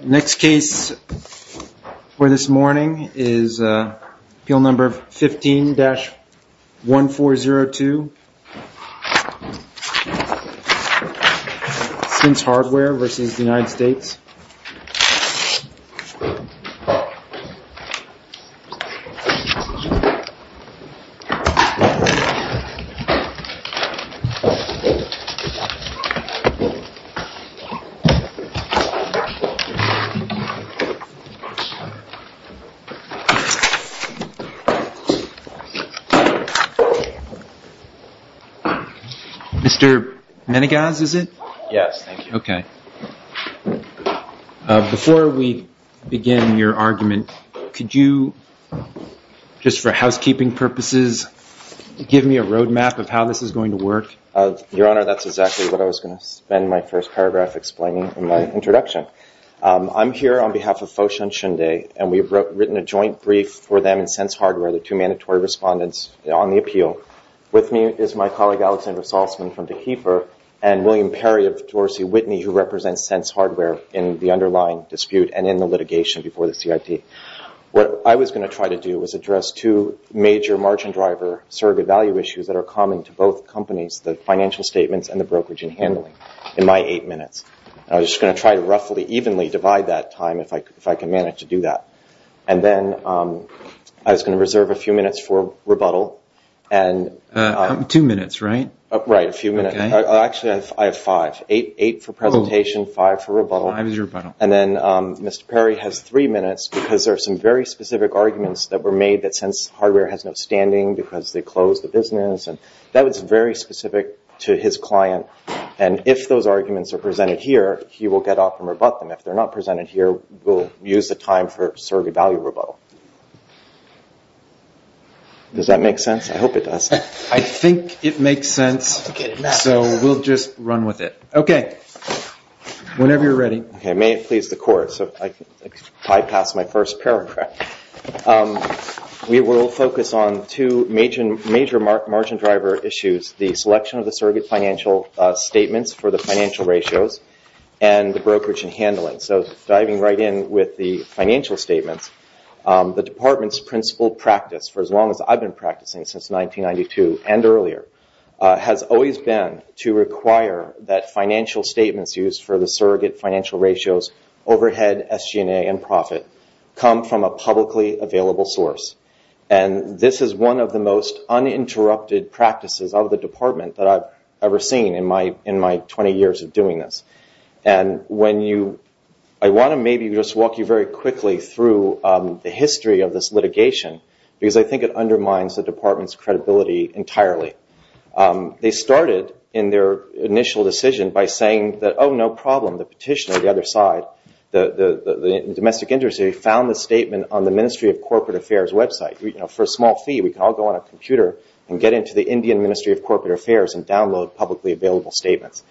The next case for this morning is Appeal No. 15-1402. Since Hardware v. United States. Mr. Meneghaz, is it? Yes, thank you. Okay. Before we begin your argument, could you, just for housekeeping purposes, give me a roadmap of how this is going to work? Your Honor, that's exactly what I was going to spend my first paragraph explaining in my introduction. I'm here on behalf of Foshun Shundei, and we've written a joint brief for them and Sense Hardware, the two mandatory respondents on the appeal. With me is my colleague Alexander Salzman from DeKeefer, and William Perry of Dorsey Whitney, who represents Sense Hardware in the underlying dispute and in the litigation before the CIT. What I was going to try to do was address two major margin driver surrogate value issues that are common to both companies, the financial statements and the brokerage and handling, in my eight minutes. I was just going to try to roughly evenly divide that time, if I could manage to do that. Then I was going to reserve a few minutes for rebuttal. Two minutes, right? Right, a few minutes. Actually, I have five. Eight for presentation, five for rebuttal. Five is your rebuttal. Then Mr. Perry has three minutes because there are some very specific arguments that were made that Sense Hardware has no standing because they closed the business. That was very specific to his client. If those arguments are presented here, he will get up and rebut them. If they're not presented here, we'll use the time for surrogate value rebuttal. Does that make sense? I hope it does. I think it makes sense, so we'll just run with it. Okay, whenever you're ready. Okay, may it please the Court. So if I could bypass my first paragraph. We will focus on two major margin driver issues, the selection of the surrogate financial statements for the financial ratios and the brokerage and handling. So diving right in with the financial statements, the department's principal practice, for as long as I've been practicing since 1992 and earlier, has always been to require that financial statements used for the surrogate financial ratios, overhead, SG&A, and profit come from a publicly available source. This is one of the most uninterrupted practices of the department that I've ever seen in my 20 years of doing this. I want to maybe just walk you very quickly through the history of this litigation because I think it undermines the department's credibility entirely. They started in their initial decision by saying that, oh, no problem. The petitioner on the other side, the domestic industry, found the statement on the Ministry of Corporate Affairs website. For a small fee, we can all go on a computer and get into the Indian Ministry of Corporate Affairs and download publicly available statements.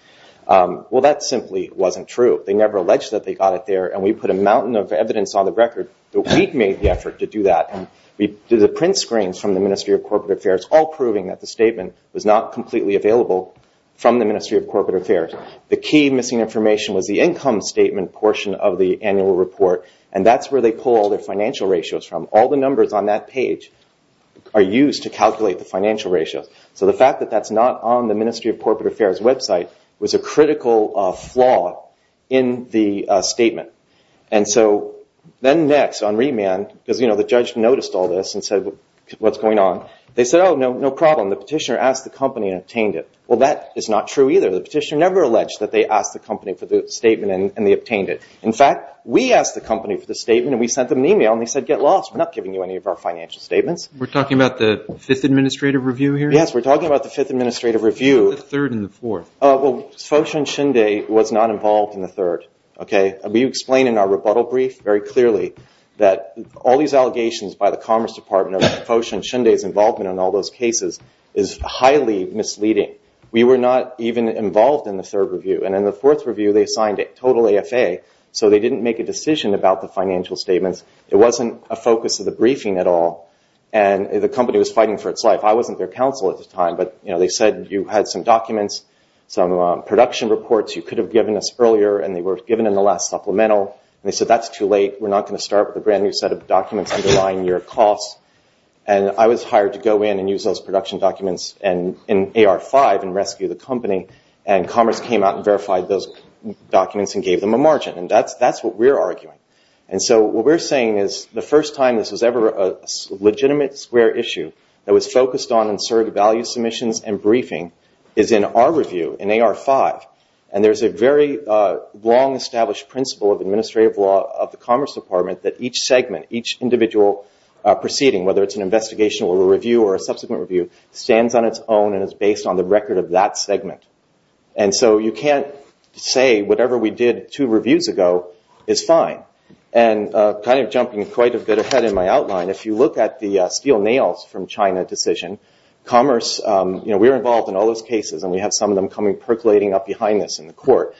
Well, that simply wasn't true. They never alleged that they got it there, and we put a mountain of evidence on the record. We made the effort to do that. We did the print screens from the Ministry of Corporate Affairs, all proving that the statement was not completely available from the Ministry of Corporate Affairs. The key missing information was the income statement portion of the annual report, and that's where they pull all their financial ratios from. All the numbers on that page are used to calculate the financial ratios. So the fact that that's not on the Ministry of Corporate Affairs website was a critical flaw in the statement. And so then next on remand, because the judge noticed all this and said, what's going on? They said, oh, no problem. The petitioner asked the company and obtained it. Well, that is not true either. The petitioner never alleged that they asked the company for the statement and they obtained it. In fact, we asked the company for the statement, and we sent them an e-mail, and they said, get lost. We're not giving you any of our financial statements. We're talking about the Fifth Administrative Review here? Yes, we're talking about the Fifth Administrative Review. The third and the fourth. Well, Fosha and Shinde was not involved in the third. You explain in our rebuttal brief very clearly that all these allegations by the Commerce Department of Fosha and Shinde's involvement in all those cases is highly misleading. We were not even involved in the third review. And in the fourth review, they signed a total AFA. So they didn't make a decision about the financial statements. It wasn't a focus of the briefing at all. And the company was fighting for its life. I wasn't their counsel at the time. But they said you had some documents, some production reports you could have given us earlier, and they were given in the last supplemental. And they said, that's too late. We're not going to start with a brand-new set of documents underlying your costs. And I was hired to go in and use those production documents in AR-5 and rescue the company. And Commerce came out and verified those documents and gave them a margin. And that's what we're arguing. And so what we're saying is the first time this was ever a legitimate square issue that was focused on and served value submissions and briefing is in our review in AR-5. And there's a very long-established principle of administrative law of the Commerce Department that each segment, each individual proceeding, whether it's an investigation or a review or a subsequent review, stands on its own and is based on the record of that segment. And so you can't say whatever we did two reviews ago is fine. And kind of jumping quite a bit ahead in my outline, if you look at the steel nails from China decision, Commerce, you know, we were involved in all those cases, and we have some of them percolating up behind us in the court.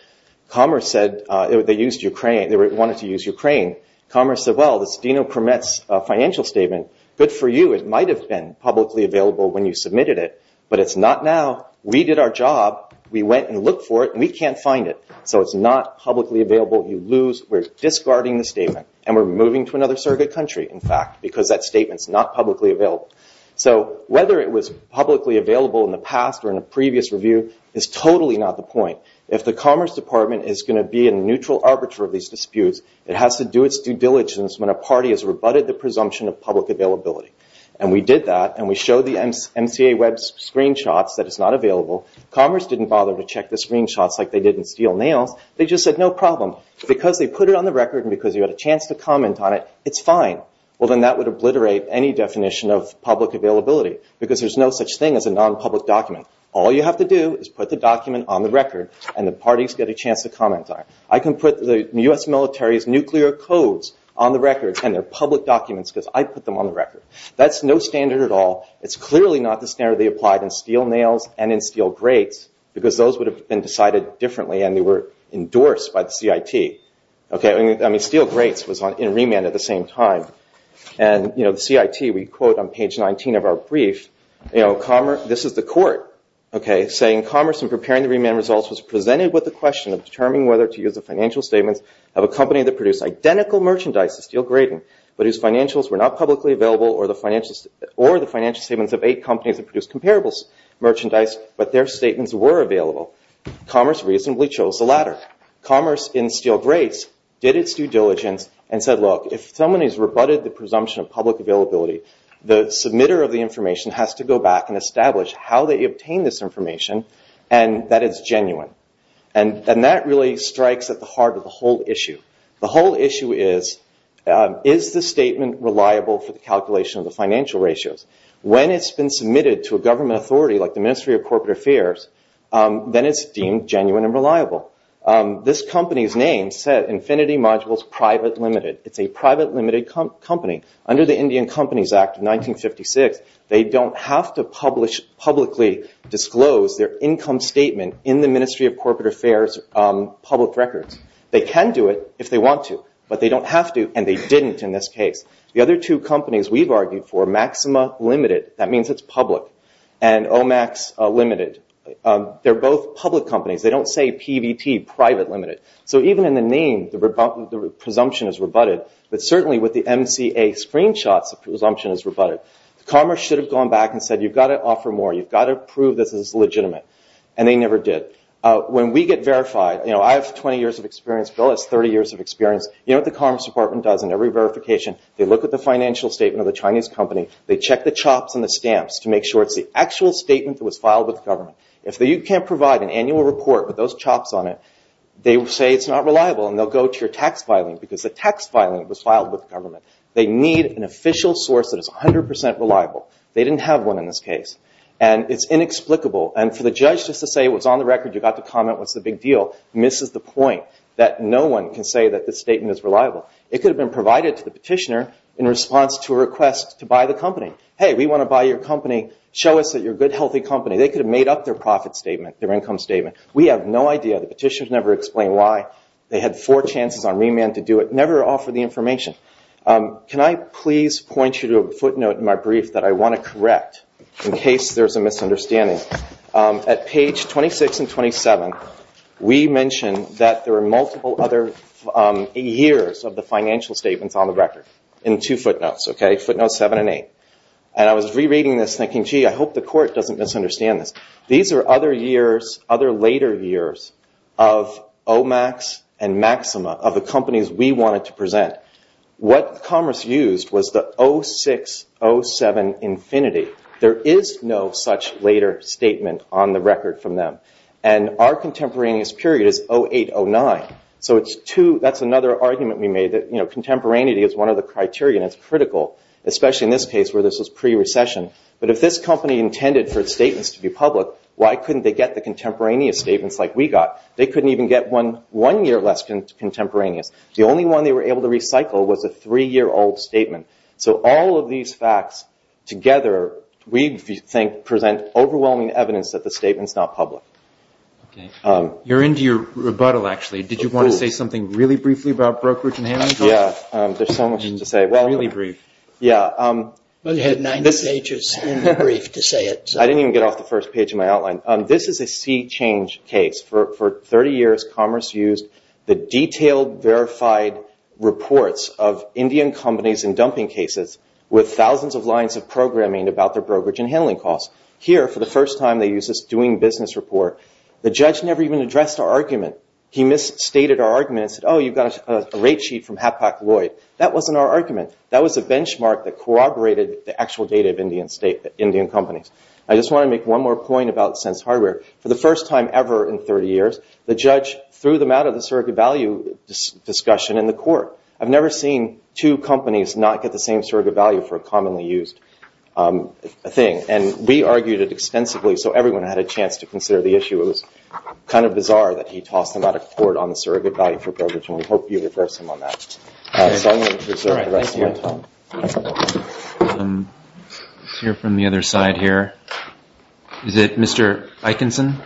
Commerce said they wanted to use Ukraine. Commerce said, well, this DINO permits financial statement, good for you. It might have been publicly available when you submitted it, but it's not now. We did our job. We went and looked for it, and we can't find it. So it's not publicly available. You lose. We're discarding the statement. And we're moving to another surrogate country, in fact, because that statement's not publicly available. So whether it was publicly available in the past or in a previous review is totally not the point. If the Commerce Department is going to be a neutral arbiter of these disputes, it has to do its due diligence when a party has rebutted the presumption of public availability. And we did that, and we showed the MCA web screenshots that it's not available. Commerce didn't bother to check the screenshots like they did in steel nails. They just said, no problem. Because they put it on the record and because you had a chance to comment on it, it's fine. Well, then that would obliterate any definition of public availability because there's no such thing as a nonpublic document. All you have to do is put the document on the record, and the parties get a chance to comment on it. I can put the U.S. military's nuclear codes on the record and their public documents because I put them on the record. That's no standard at all. It's clearly not the standard they applied in steel nails and in steel grates because those would have been decided differently, and they were endorsed by the CIT. I mean, steel grates was in remand at the same time. And the CIT, we quote on page 19 of our brief, this is the court saying, commerce in preparing the remand results was presented with the question of determining whether to use the financial statements of a company that produced identical merchandise to steel grating, but whose financials were not publicly available, or the financial statements of eight companies that produced comparable merchandise, but their statements were available. Commerce reasonably chose the latter. Commerce in steel grates did its due diligence and said, look, if someone has rebutted the presumption of public availability, the submitter of the information has to go back and establish how they obtained this information and that it's genuine. And that really strikes at the heart of the whole issue. The whole issue is, is the statement reliable for the calculation of the financial ratios? When it's been submitted to a government authority like the Ministry of Corporate Affairs, then it's deemed genuine and reliable. This company's name said Infinity Modules Private Limited. It's a private limited company. Under the Indian Companies Act of 1956, they don't have to publicly disclose their income statement in the Ministry of Corporate Affairs public records. They can do it if they want to, but they don't have to, and they didn't in this case. The other two companies we've argued for, Maxima Limited, that means it's public, and Omax Limited, they're both public companies. They don't say PVT, private limited. So even in the name, the presumption is rebutted, but certainly with the MCA screenshots, the presumption is rebutted. Commerce should have gone back and said, you've got to offer more. You've got to prove this is legitimate, and they never did. When we get verified, you know, I have 20 years of experience. Bill has 30 years of experience. You know what the Commerce Department does in every verification? They look at the financial statement of the Chinese company. They check the chops and the stamps to make sure it's the actual statement that was filed with the government. If you can't provide an annual report with those chops on it, they say it's not reliable, and they'll go to your tax filing, because the tax filing was filed with the government. They need an official source that is 100% reliable. They didn't have one in this case, and it's inexplicable, and for the judge just to say it was on the record, you got to comment what's the big deal, misses the point that no one can say that this statement is reliable. It could have been provided to the petitioner in response to a request to buy the company. Hey, we want to buy your company. Show us that you're a good, healthy company. They could have made up their profit statement, their income statement. We have no idea. The petitioners never explained why. They had four chances on remand to do it, never offered the information. Can I please point you to a footnote in my brief that I want to correct in case there's a misunderstanding? At page 26 and 27, we mention that there are multiple other years of the financial statements on the record in two footnotes, footnotes 7 and 8. And I was rereading this thinking, gee, I hope the court doesn't misunderstand this. These are other years, other later years of OMAX and Maxima, of the companies we wanted to present. What Commerce used was the 06-07 infinity. There is no such later statement on the record from them, and our contemporaneous period is 08-09. So that's another argument we made that contemporaneity is one of the criteria, and it's critical, especially in this case where this was pre-recession. But if this company intended for its statements to be public, why couldn't they get the contemporaneous statements like we got? They couldn't even get one year less contemporaneous. The only one they were able to recycle was a three-year-old statement. So all of these facts together, we think, present overwhelming evidence that the statement's not public. You're into your rebuttal, actually. Did you want to say something really briefly about brokerage and handling? Yeah, there's so much to say. Really brief. Yeah. Well, you had 90 pages in the brief to say it. I didn't even get off the first page of my outline. This is a sea change case. For 30 years, Commerce used the detailed, verified reports of Indian companies in dumping cases with thousands of lines of programming about their brokerage and handling costs. Here, for the first time, they used this doing business report. The judge never even addressed our argument. He misstated our argument and said, oh, you've got a rate sheet from Hapak Lloyd. That wasn't our argument. That was a benchmark that corroborated the actual data of Indian companies. I just want to make one more point about Sense Hardware. For the first time ever in 30 years, the judge threw them out of the surrogate value discussion in the court. I've never seen two companies not get the same surrogate value for a commonly used thing, and we argued it extensively so everyone had a chance to consider the issue. It was kind of bizarre that he tossed them out of court on the surrogate value for brokerage, and we hope you address him on that. So I'm going to reserve the rest of my time. Let's hear from the other side here. Is it Mr. Eikenson?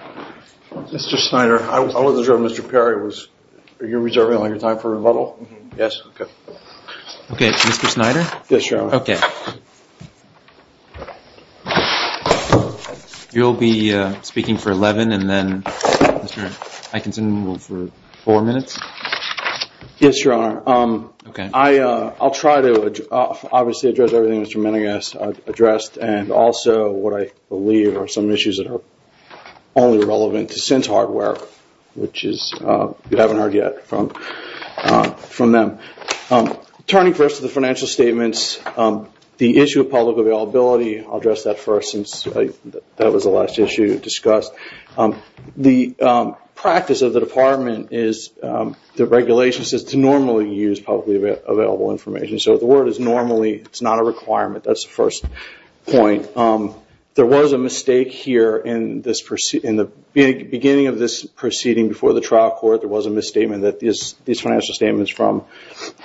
Mr. Snyder, I was observing Mr. Perry. Are you reserving all your time for rebuttal? Okay, Mr. Snyder? Yes, Your Honor. Okay. You'll be speaking for 11 and then Mr. Eikenson will for four minutes? Yes, Your Honor. Okay. I'll try to obviously address everything Mr. Menegas addressed and also what I believe are some issues that are only relevant to Sense Hardware, which you haven't heard yet from them. Turning first to the financial statements, the issue of public availability, I'll address that first since that was the last issue discussed. The practice of the department is the regulation says to normally use publicly available information. So the word is normally. It's not a requirement. That's the first point. There was a mistake here in the beginning of this proceeding before the trial court. There was a misstatement that these financial statements from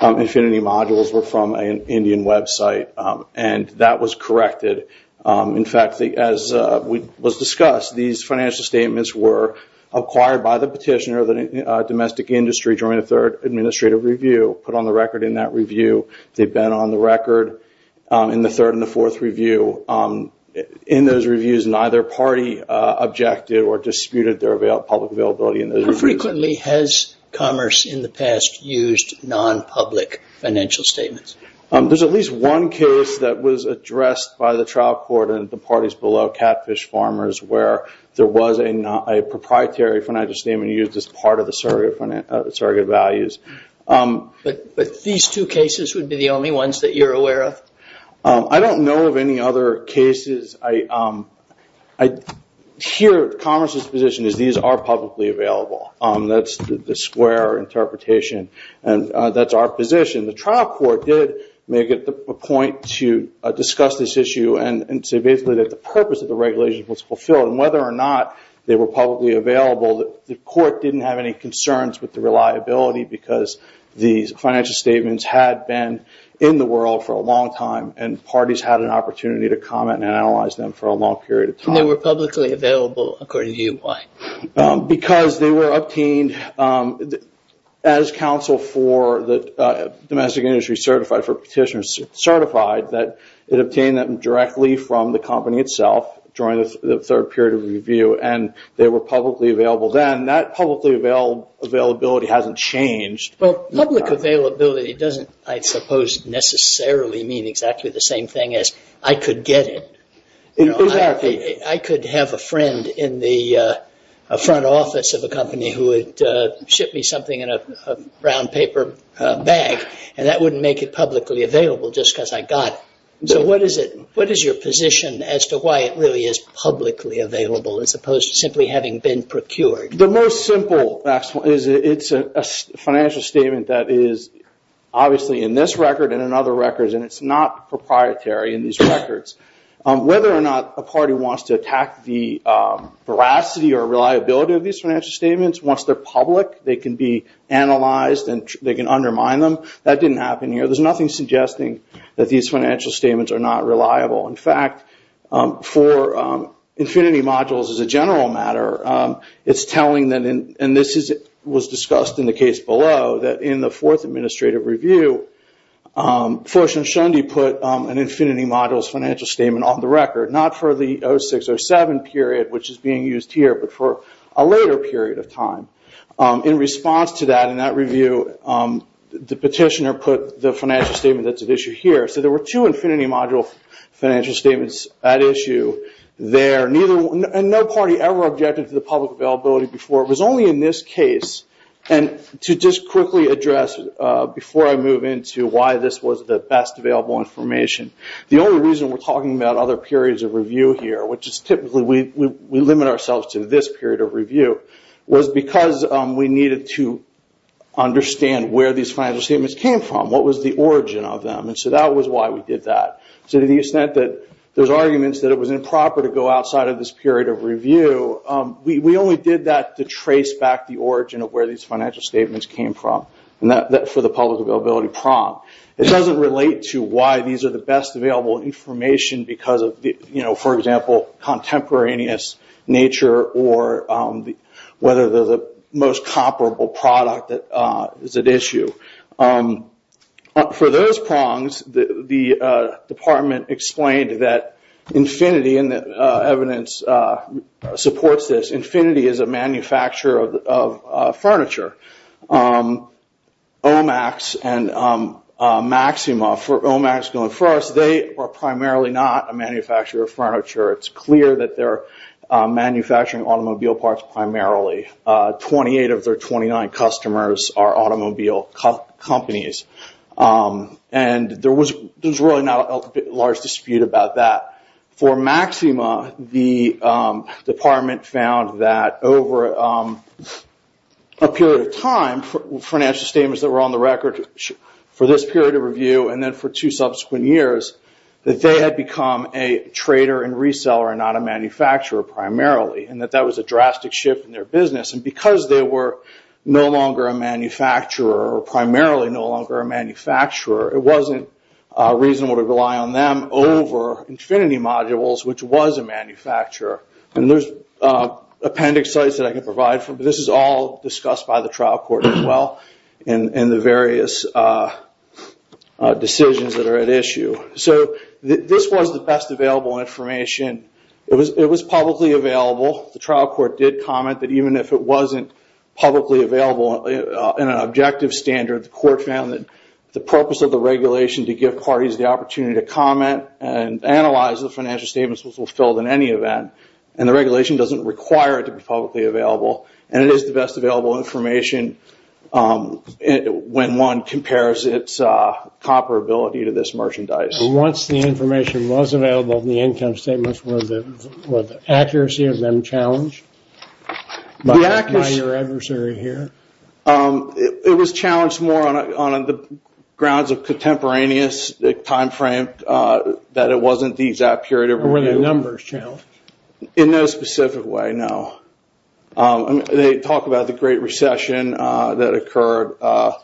Infinity Modules were from an Indian website, and that was corrected. In fact, as was discussed, these financial statements were acquired by the petitioner of the domestic industry during the third administrative review, put on the record in that review. They've been on the record in the third and the fourth review. In those reviews, neither party objected or disputed their public availability in those reviews. How frequently has Commerce in the past used non-public financial statements? There's at least one case that was addressed by the trial court and the parties below, Catfish Farmers, where there was a proprietary financial statement used as part of the surrogate values. But these two cases would be the only ones that you're aware of? I don't know of any other cases. I hear Commerce's position is these are publicly available. That's the square interpretation, and that's our position. The trial court did make it a point to discuss this issue and say basically that the purpose of the regulation was fulfilled, and whether or not they were publicly available, the court didn't have any concerns with the reliability because these financial statements had been in the world for a long time, and parties had an opportunity to comment and analyze them for a long period of time. They were publicly available, according to you. Why? Because they were obtained as counsel for the domestic industry certified, for petitioners certified that it obtained them directly from the company itself during the third period of review, and they were publicly available then. That publicly availability hasn't changed. Well, public availability doesn't, I suppose, necessarily mean exactly the same thing as I could get it. Exactly. I could have a friend in the front office of a company who would ship me something in a brown paper bag, and that wouldn't make it publicly available just because I got it. So what is your position as to why it really is publicly available as opposed to simply having been procured? The most simple is it's a financial statement that is obviously in this record and in other records, and it's not proprietary in these records. Whether or not a party wants to attack the veracity or reliability of these financial statements, once they're public, they can be analyzed and they can undermine them. That didn't happen here. There's nothing suggesting that these financial statements are not reliable. In fact, for Infinity Modules as a general matter, it's telling them, and this was discussed in the case below, that in the fourth administrative review, Forsh and Shundy put an Infinity Modules financial statement on the record, not for the 06 or 07 period, which is being used here, but for a later period of time. In response to that, in that review, the petitioner put the financial statement that's at issue here. So there were two Infinity Module financial statements at issue there, and no party ever objected to the public availability before. It was only in this case, and to just quickly address before I move into why this was the best available information, the only reason we're talking about other periods of review here, which is typically we limit ourselves to this period of review, was because we needed to understand where these financial statements came from, what was the origin of them. So that was why we did that. To the extent that there's arguments that it was improper to go outside of this period of review, we only did that to trace back the origin of where these financial statements came from, for the public availability prong. It doesn't relate to why these are the best available information because of, for example, contemporaneous nature or whether they're the most comparable product that is at issue. For those prongs, the department explained that Infinity, and the evidence supports this, Infinity is a manufacturer of furniture. OMAX and Maxima, for OMAX going first, they are primarily not a manufacturer of furniture. It's clear that they're manufacturing automobile parts primarily. Twenty-eight of their 29 customers are automobile companies. There's really not a large dispute about that. For Maxima, the department found that over a period of time, financial statements that were on the record for this period of review and then for two subsequent years, that they had become a trader and reseller and not a manufacturer primarily, and that that was a drastic shift in their business. Because they were no longer a manufacturer or primarily no longer a manufacturer, it wasn't reasonable to rely on them over Infinity Modules, which was a manufacturer. There's appendix sites that I can provide for, but this is all discussed by the trial court as well in the various decisions that are at issue. This was the best available information. It was publicly available. The trial court did comment that even if it wasn't publicly available in an objective standard, the court found that the purpose of the regulation to give parties the opportunity to comment and analyze the financial statements was fulfilled in any event, and the regulation doesn't require it to be publicly available. It is the best available information when one compares its comparability to this merchandise. And once the information was available, the income statements, was the accuracy of them challenged by your adversary here? It was challenged more on the grounds of contemporaneous timeframe, that it wasn't the exact period of review. Were the numbers challenged? In no specific way, no. They talk about the Great Recession that occurred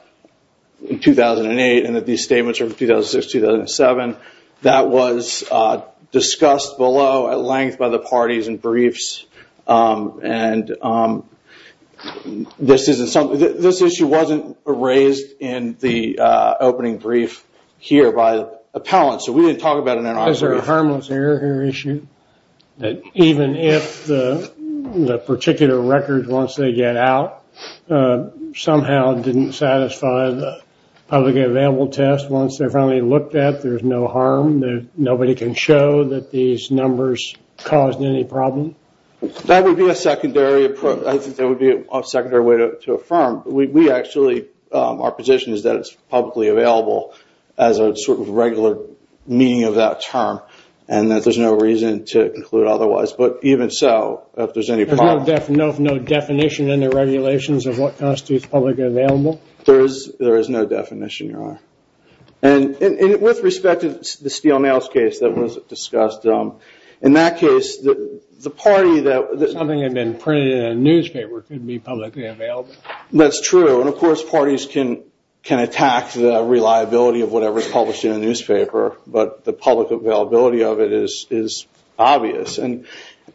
in 2008, and that these statements are from 2006-2007. That was discussed below at length by the parties in briefs. This issue wasn't raised in the opening brief here by appellants, so we didn't talk about it in our brief. Is there a harmless error here issued, that even if the particular record, once they get out, somehow didn't satisfy the publicly available test, once they're finally looked at, there's no harm? Nobody can show that these numbers caused any problem? That would be a secondary way to affirm. Our position is that it's publicly available, as a sort of regular meaning of that term, and that there's no reason to conclude otherwise. But even so, if there's any problem... There's no definition in the regulations of what constitutes publicly available? There is no definition, Your Honor. With respect to the steel nails case that was discussed, in that case, the party that... Something had been printed in a newspaper could be publicly available. That's true. Of course, parties can attack the reliability of whatever is published in a newspaper, but the public availability of it is obvious. In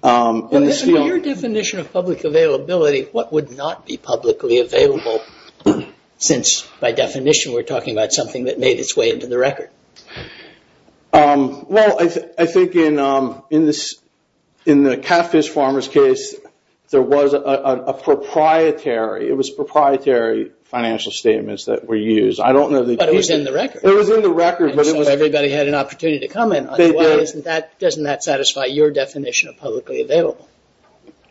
your definition of public availability, what would not be publicly available, since by definition we're talking about something that made its way into the record? Well, I think in the catfish farmer's case, there was a proprietary... It was proprietary financial statements that were used. But it was in the record. It was in the record. Everybody had an opportunity to comment. Doesn't that satisfy your definition of publicly available?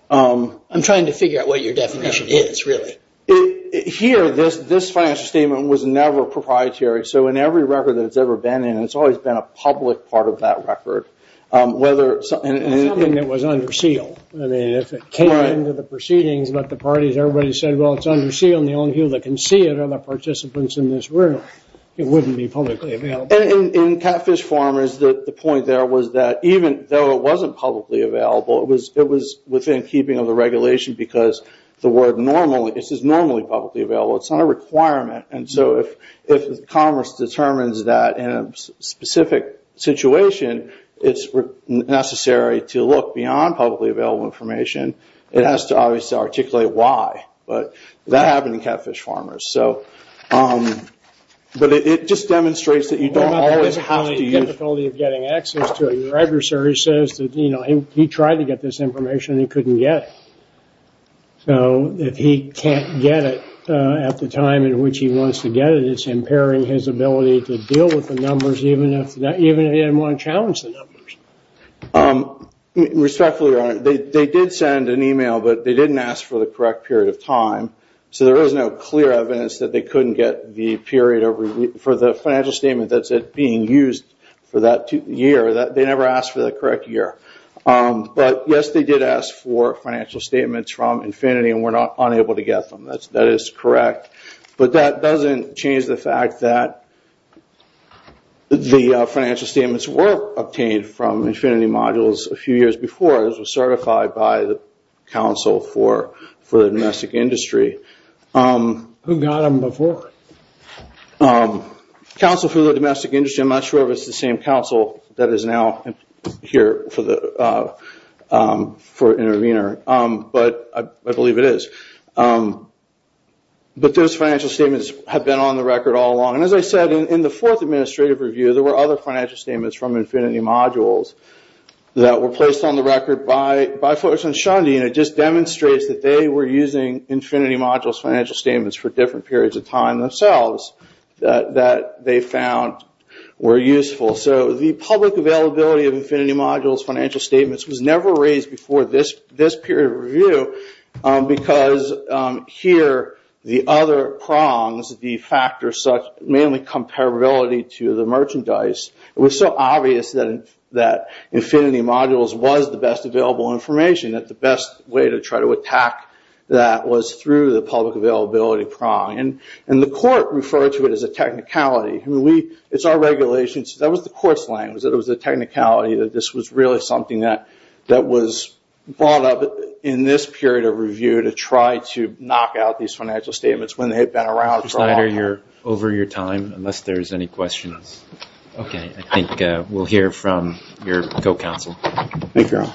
I'm trying to figure out what your definition is, really. Here, this financial statement was never proprietary. So in every record that it's ever been in, it's always been a public part of that record. Something that was under seal. If it came into the proceedings, but the parties, everybody said, well, it's under seal, and the only people that can see it are the participants in this room. It wouldn't be publicly available. In catfish farmers, the point there was that even though it wasn't publicly available, it was within keeping of the regulation, because the word normally, this is normally publicly available. It's not a requirement. And so if commerce determines that in a specific situation, it's necessary to look beyond publicly available information, it has to obviously articulate why. But that happened in catfish farmers. But it just demonstrates that you don't always have to use... The difficulty of getting access to a registry says that he tried to get this information, and he couldn't get it. So if he can't get it at the time in which he wants to get it, it's impairing his ability to deal with the numbers, even if he didn't want to challenge the numbers. Respectfully, Your Honor, they did send an email, but they didn't ask for the correct period of time. So there is no clear evidence that they couldn't get the period for the financial statement that's being used for that year. They never asked for the correct year. But yes, they did ask for financial statements from Infinity, and were unable to get them. That is correct. But that doesn't change the fact that the financial statements were obtained from Infinity Modules a few years before it was certified by the Council for the Domestic Industry. Who got them before? Council for the Domestic Industry, I'm not sure if it's the same council that is now here for Intervenor. But I believe it is. But those financial statements have been on the record all along. And as I said, in the fourth administrative review, there were other financial statements from Infinity Modules that were placed on the record by folks in Shundi, and it just demonstrates that they were using Infinity Modules financial statements for different periods of time themselves that they found were useful. So the public availability of Infinity Modules financial statements was never raised before this period of review, because here, the other prongs, the factors such mainly comparability to the merchandise, it was so obvious that Infinity Modules was the best available information, that the best way to try to attack that was through the public availability prong. And the court referred to it as a technicality. It's our regulations. That was the court's language, that it was a technicality, that this was really something that was brought up in this period of review to try to knock out these financial statements when they had been around for a long time. Mr. Snyder, you're over your time, unless there's any questions. Okay, I think we'll hear from your co-counsel. Thank you, Aaron.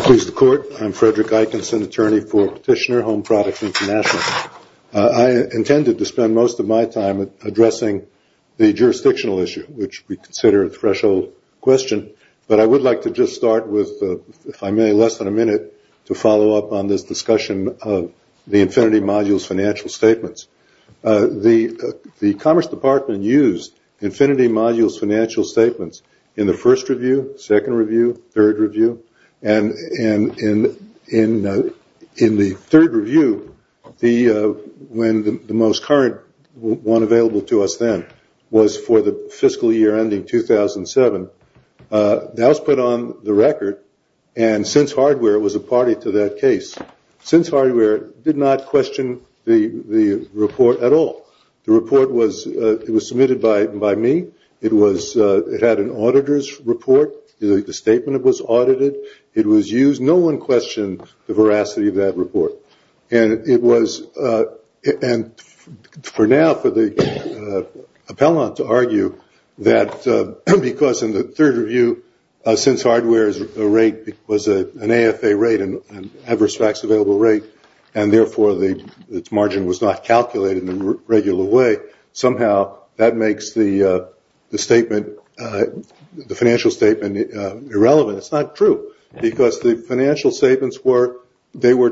Please, the court. I'm Frederick Eikenson, attorney for Petitioner Home Products International. I intended to spend most of my time addressing the jurisdictional issue, which we consider a threshold question, but I would like to just start with, if I may, less than a minute, to follow up on this discussion of the Infinity Modules financial statements. The Commerce Department used Infinity Modules financial statements in the first review, second review, third review. And in the third review, the most current one available to us then, was for the fiscal year ending 2007. That was put on the record, and since hardware was a party to that case, since hardware did not question the report at all. The report was submitted by me. It had an auditor's report. The statement was audited. It was used. No one questioned the veracity of that report. And for now, for the appellant to argue that because in the third review, since hardware was an AFA rate, an adverse facts available rate, and therefore its margin was not calculated in a regular way, somehow that makes the statement, the financial statement, irrelevant. It's not true, because the financial statements were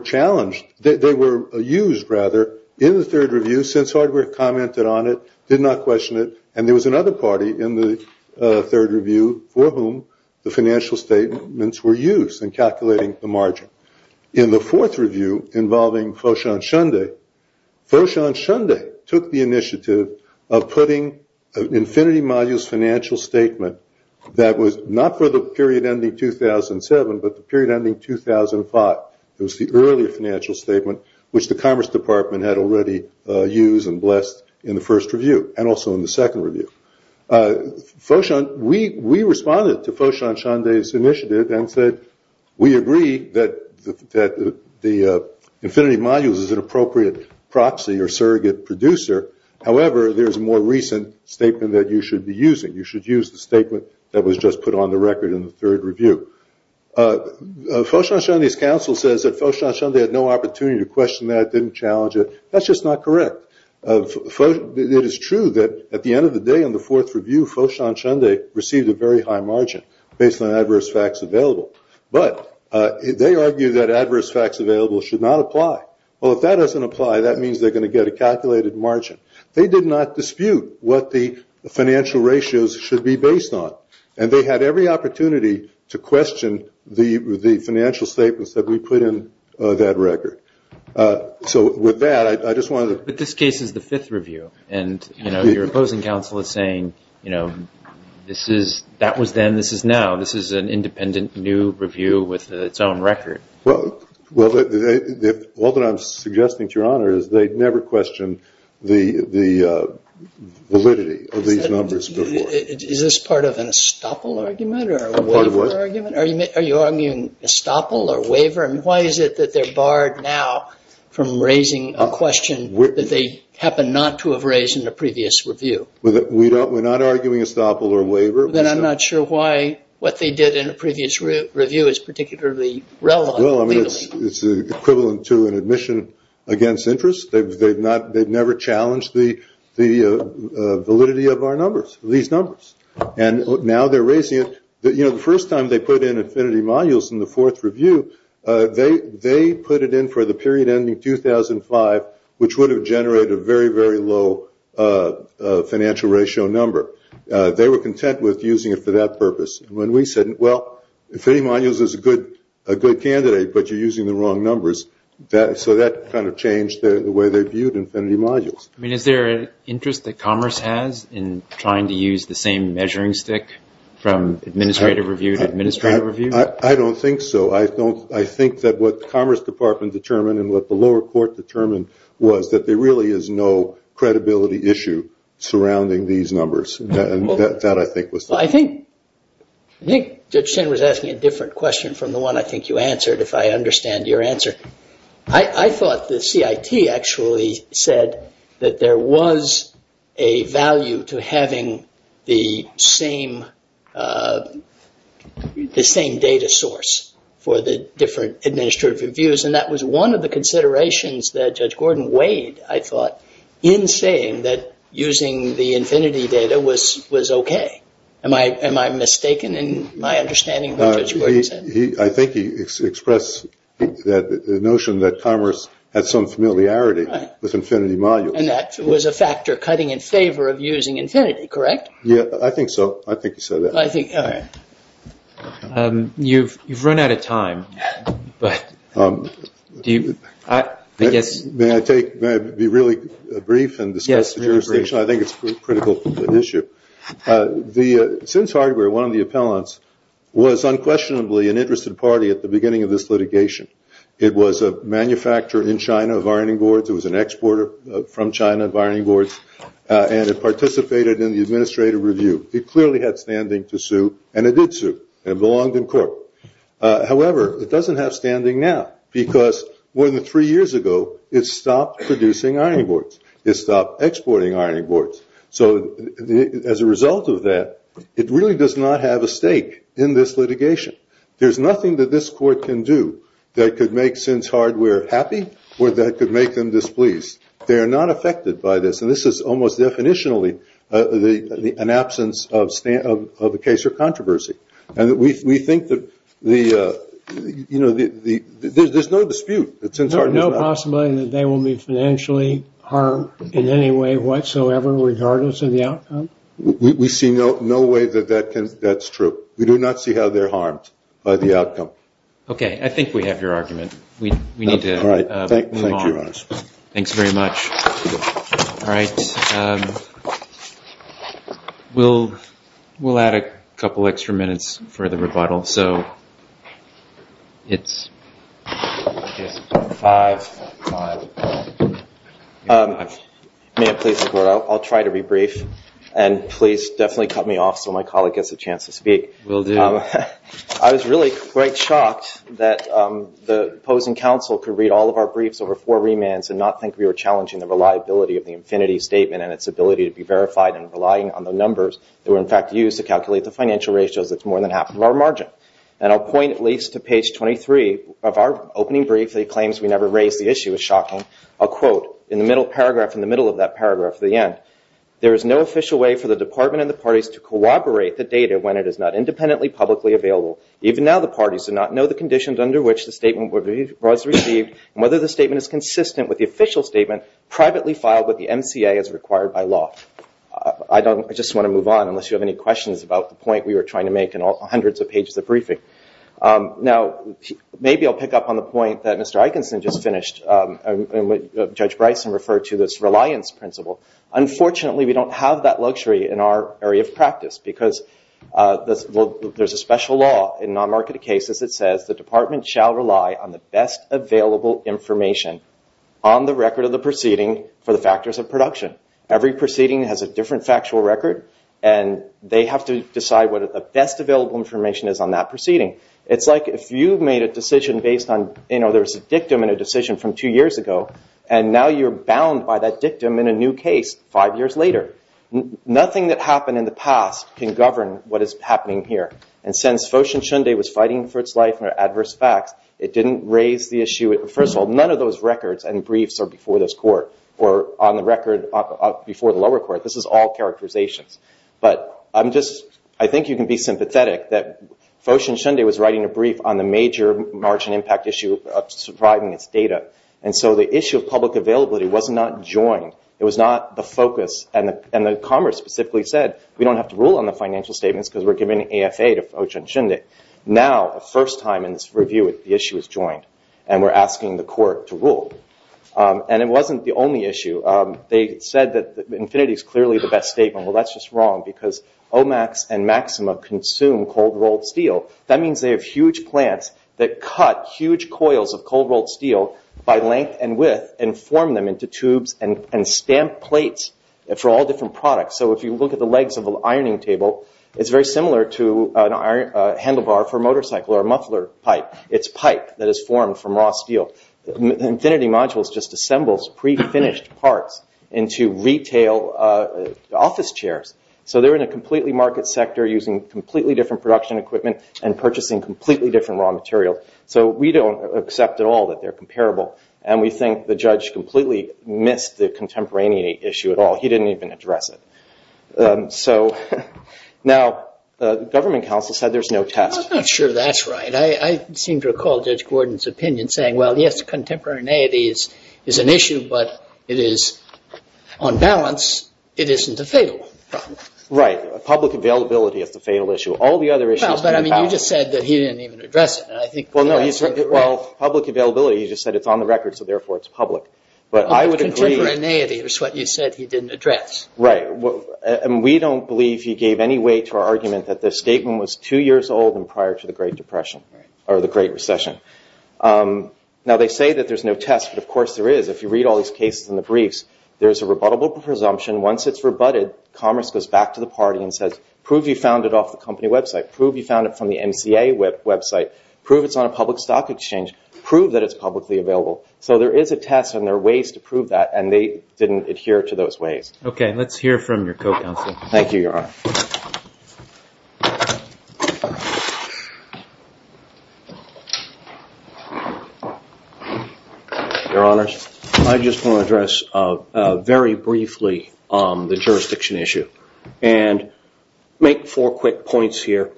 challenged. They were used, rather, in the third review, since hardware commented on it, did not question it, and there was another party in the third review for whom the financial statements were used in calculating the margin. In the fourth review, involving Foshan Shunde, Foshan Shunde took the initiative of putting an Infinity Modules financial statement that was not for the period ending 2007, but the period ending 2005. It was the earlier financial statement, which the Commerce Department had already used and blessed in the first review, and also in the second review. We responded to Foshan Shunde's initiative and said, we agree that the Infinity Modules is an appropriate proxy or surrogate producer. However, there's a more recent statement that you should be using. You should use the statement that was just put on the record in the third review. Foshan Shunde's counsel says that Foshan Shunde had no opportunity to question that, didn't challenge it. That's just not correct. It is true that at the end of the day, in the fourth review, Foshan Shunde received a very high margin based on adverse facts available. But they argue that adverse facts available should not apply. Well, if that doesn't apply, that means they're going to get a calculated margin. They did not dispute what the financial ratios should be based on, and they had every opportunity to question the financial statements that we put in that record. So with that, I just wanted to... But this case is the fifth review, and your opposing counsel is saying that was then, this is now. This is an independent new review with its own record. Well, all that I'm suggesting to Your Honor is they never questioned the validity of these numbers before. Is this part of an estoppel argument or a waiver argument? Are you arguing estoppel or waiver? And why is it that they're barred now from raising a question that they happen not to have raised in a previous review? We're not arguing estoppel or waiver. Then I'm not sure why what they did in a previous review is particularly relevant. Well, I mean, it's equivalent to an admission against interest. They've never challenged the validity of our numbers, these numbers. And now they're raising it. You know, the first time they put in infinity modules in the fourth review, they put it in for the period ending 2005, which would have generated a very, very low financial ratio number. They were content with using it for that purpose. When we said, well, infinity modules is a good candidate, but you're using the wrong numbers. So that kind of changed the way they viewed infinity modules. I mean, is there an interest that Commerce has in trying to use the same measuring stick from administrative review to administrative review? I don't think so. I think that what Commerce Department determined and what the lower court determined was that there really is no credibility issue surrounding these numbers. That, I think, was the point. Well, I think Judge Chen was asking a different question from the one I think you answered, if I understand your answer. I thought the CIT actually said that there was a value to having the same data source for the different administrative reviews. And that was one of the considerations that Judge Gordon weighed, I thought, in saying that using the infinity data was okay. Am I mistaken in my understanding of what Judge Gordon said? I think he expressed the notion that Commerce had some familiarity with infinity modules. And that was a factor cutting in favor of using infinity, correct? Yeah, I think so. I think he said that. You've run out of time. May I be really brief and discuss the jurisdiction? I think it's a critical issue. Since hardware, one of the appellants was unquestionably an interested party at the beginning of this litigation. It was a manufacturer in China of ironing boards. It was an exporter from China of ironing boards. And it participated in the administrative review. It clearly had standing to sue, and it did sue and belonged in court. However, it doesn't have standing now because more than three years ago it stopped producing ironing boards. It stopped exporting ironing boards. So as a result of that, it really does not have a stake in this litigation. There's nothing that this court can do that could make Sins Hardware happy or that could make them displeased. They are not affected by this, and this is almost definitionally an absence of a case or controversy. And we think that there's no dispute that Sins Hardware is not. No possibility that they will be financially harmed in any way whatsoever regardless of the outcome? We see no way that that's true. We do not see how they're harmed by the outcome. Okay. I think we have your argument. We need to move on. Thank you, Your Honor. Thanks very much. All right. We'll add a couple extra minutes for the rebuttal. So it's 5-5-5. May I please report? I'll try to be brief. And please definitely cut me off so my colleague gets a chance to speak. Will do. I was really quite shocked that the opposing counsel could read all of our briefs over four remands and not think we were challenging the reliability of the infinity statement and its ability to be verified and relying on the numbers that were, in fact, used to calculate the financial ratios that's more than half of our margin. And I'll point at least to page 23 of our opening brief. It claims we never raised the issue. It was shocking. I'll quote. In the middle paragraph, in the middle of that paragraph at the end, there is no official way for the department and the parties to corroborate the data when it is not independently publicly available. Even now the parties do not know the conditions under which the statement was received and whether the statement is consistent with the official statement privately filed by the MCA as required by law. I just want to move on unless you have any questions about the point we were trying to make in all hundreds of pages of briefing. Now, maybe I'll pick up on the point that Mr. Eikenson just finished and what Judge Bryson referred to, this reliance principle. Unfortunately, we don't have that luxury in our area of practice because there's a special law in non-marketed cases that says the department shall rely on the best available information on the record of the proceeding for the factors of production. Every proceeding has a different factual record, and they have to decide what the best available information is on that proceeding. It's like if you made a decision based on, you know, there's a dictum in a decision from two years ago and now you're bound by that dictum in a new case five years later. Nothing that happened in the past can govern what is happening here. And since Foshin Shunde was fighting for its life under adverse facts, it didn't raise the issue. First of all, none of those records and briefs are before this court or on the record before the lower court. This is all characterizations. I think you can be sympathetic that Foshin Shunde was writing a brief on the major margin impact issue of surviving its data, and so the issue of public availability was not joined. It was not the focus, and the Congress specifically said, we don't have to rule on the financial statements because we're giving AFA to Foshin Shunde. Now, the first time in this review, the issue is joined, and we're asking the court to rule. And it wasn't the only issue. They said that Infinity is clearly the best statement. Well, that's just wrong because OMAX and Maxima consume cold-rolled steel. That means they have huge plants that cut huge coils of cold-rolled steel by length and width and form them into tubes and stamp plates for all different products. So if you look at the legs of an ironing table, it's very similar to a handlebar for a motorcycle or a muffler pipe. It's pipe that is formed from raw steel. Infinity Modules just assembles pre-finished parts into retail office chairs. So they're in a completely market sector using completely different production equipment and purchasing completely different raw materials. So we don't accept at all that they're comparable, and we think the judge completely missed the contemporaneity issue at all. He didn't even address it. So now the government counsel said there's no test. I'm not sure that's right. I seem to recall Judge Gordon's opinion saying, well, yes, contemporaneity is an issue, but it is on balance. It isn't a fatal problem. Right. Public availability is the fatal issue. All the other issues can be balanced. But, I mean, you just said that he didn't even address it. Well, no. Well, public availability, you just said it's on the record, so therefore it's public. But I would agree. Contemporaneity is what you said he didn't address. Right. We don't believe he gave any weight to our argument that the statement was two years old and prior to the Great Depression or the Great Recession. Now, they say that there's no test, but, of course, there is. If you read all these cases in the briefs, there's a rebuttable presumption. Once it's rebutted, commerce goes back to the party and says, prove you found it off the company website. Prove you found it from the MCA website. Prove it's on a public stock exchange. Prove that it's publicly available. So there is a test and there are ways to prove that, and they didn't adhere to those ways. Okay. Let's hear from your co-counsel. Thank you, Your Honor. Your Honors, I just want to address very briefly the jurisdiction issue and make four quick points here.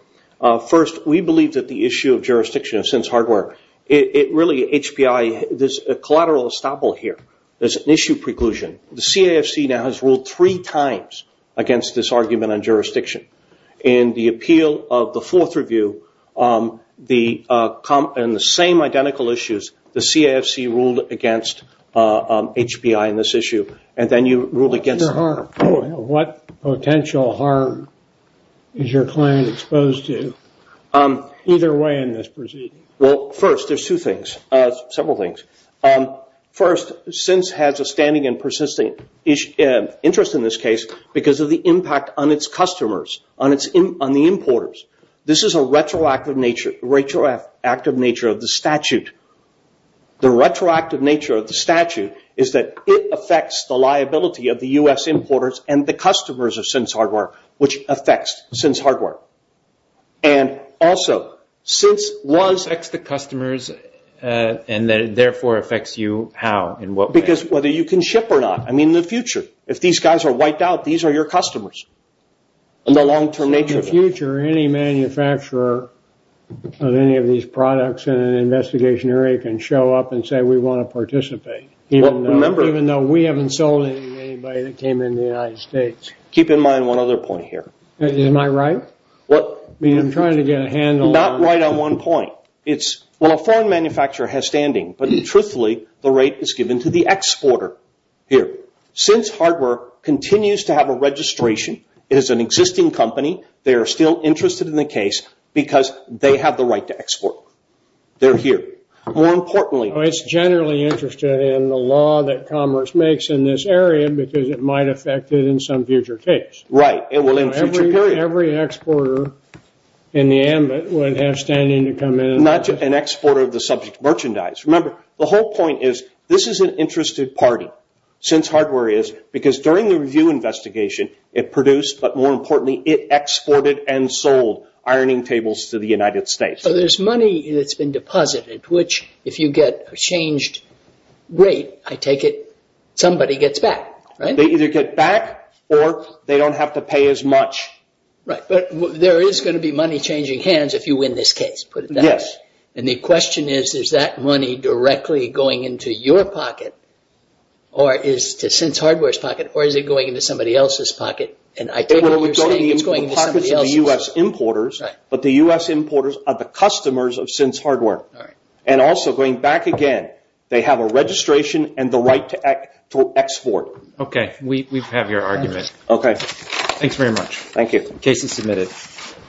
First, we believe that the issue of jurisdiction, since hardware, it really, HBI, there's a collateral estoppel here. There's an issue preclusion. The CAFC now has ruled three times against this argument on jurisdiction. In the appeal of the fourth review, in the same identical issues, the CAFC ruled against HBI in this issue, and then you ruled against it. Your Honor, what potential harm is your client exposed to either way in this proceeding? Well, first, there's two things, several things. First, SINs has a standing and persisting interest in this case because of the impact on its customers, on the importers. This is a retroactive nature of the statute. The retroactive nature of the statute is that it affects the liability of the U.S. importers and the customers of SINs hardware, which affects SINs hardware. Also, since it affects the customers and therefore affects you, how? Because whether you can ship or not. In the future, if these guys are wiped out, these are your customers in the long-term nature. In the future, any manufacturer of any of these products in an investigation area can show up and say, we want to participate, even though we haven't sold anybody that came in the United States. Keep in mind one other point here. Am I right? I'm trying to get a handle on this. Not right on one point. Well, a foreign manufacturer has standing, but truthfully, the right is given to the exporter. Since hardware continues to have a registration, it is an existing company, they are still interested in the case because they have the right to export. They're here. More importantly. It's generally interested in the law that commerce makes in this area because it might affect it in some future case. Right. It will in a future period. Every exporter in the ambit would have standing to come in. Not just an exporter of the subject merchandise. Remember, the whole point is this is an interested party, since hardware is, because during the review investigation, it produced, but more importantly, it exported and sold ironing tables to the United States. So there's money that's been deposited, which if you get a changed rate, I take it, somebody gets back. They either get back or they don't have to pay as much. Right. But there is going to be money changing hands if you win this case, put it that way. Yes. And the question is, is that money directly going into your pocket or is to since hardware's pocket, or is it going into somebody else's pocket? And I take what you're saying, it's going into somebody else's pocket. The pockets of the U.S. importers, but the U.S. importers are the customers of since hardware. All right. And also, going back again, they have a registration and the right to export. Okay. We have your argument. Okay. Thanks very much. Thank you. Case is submitted.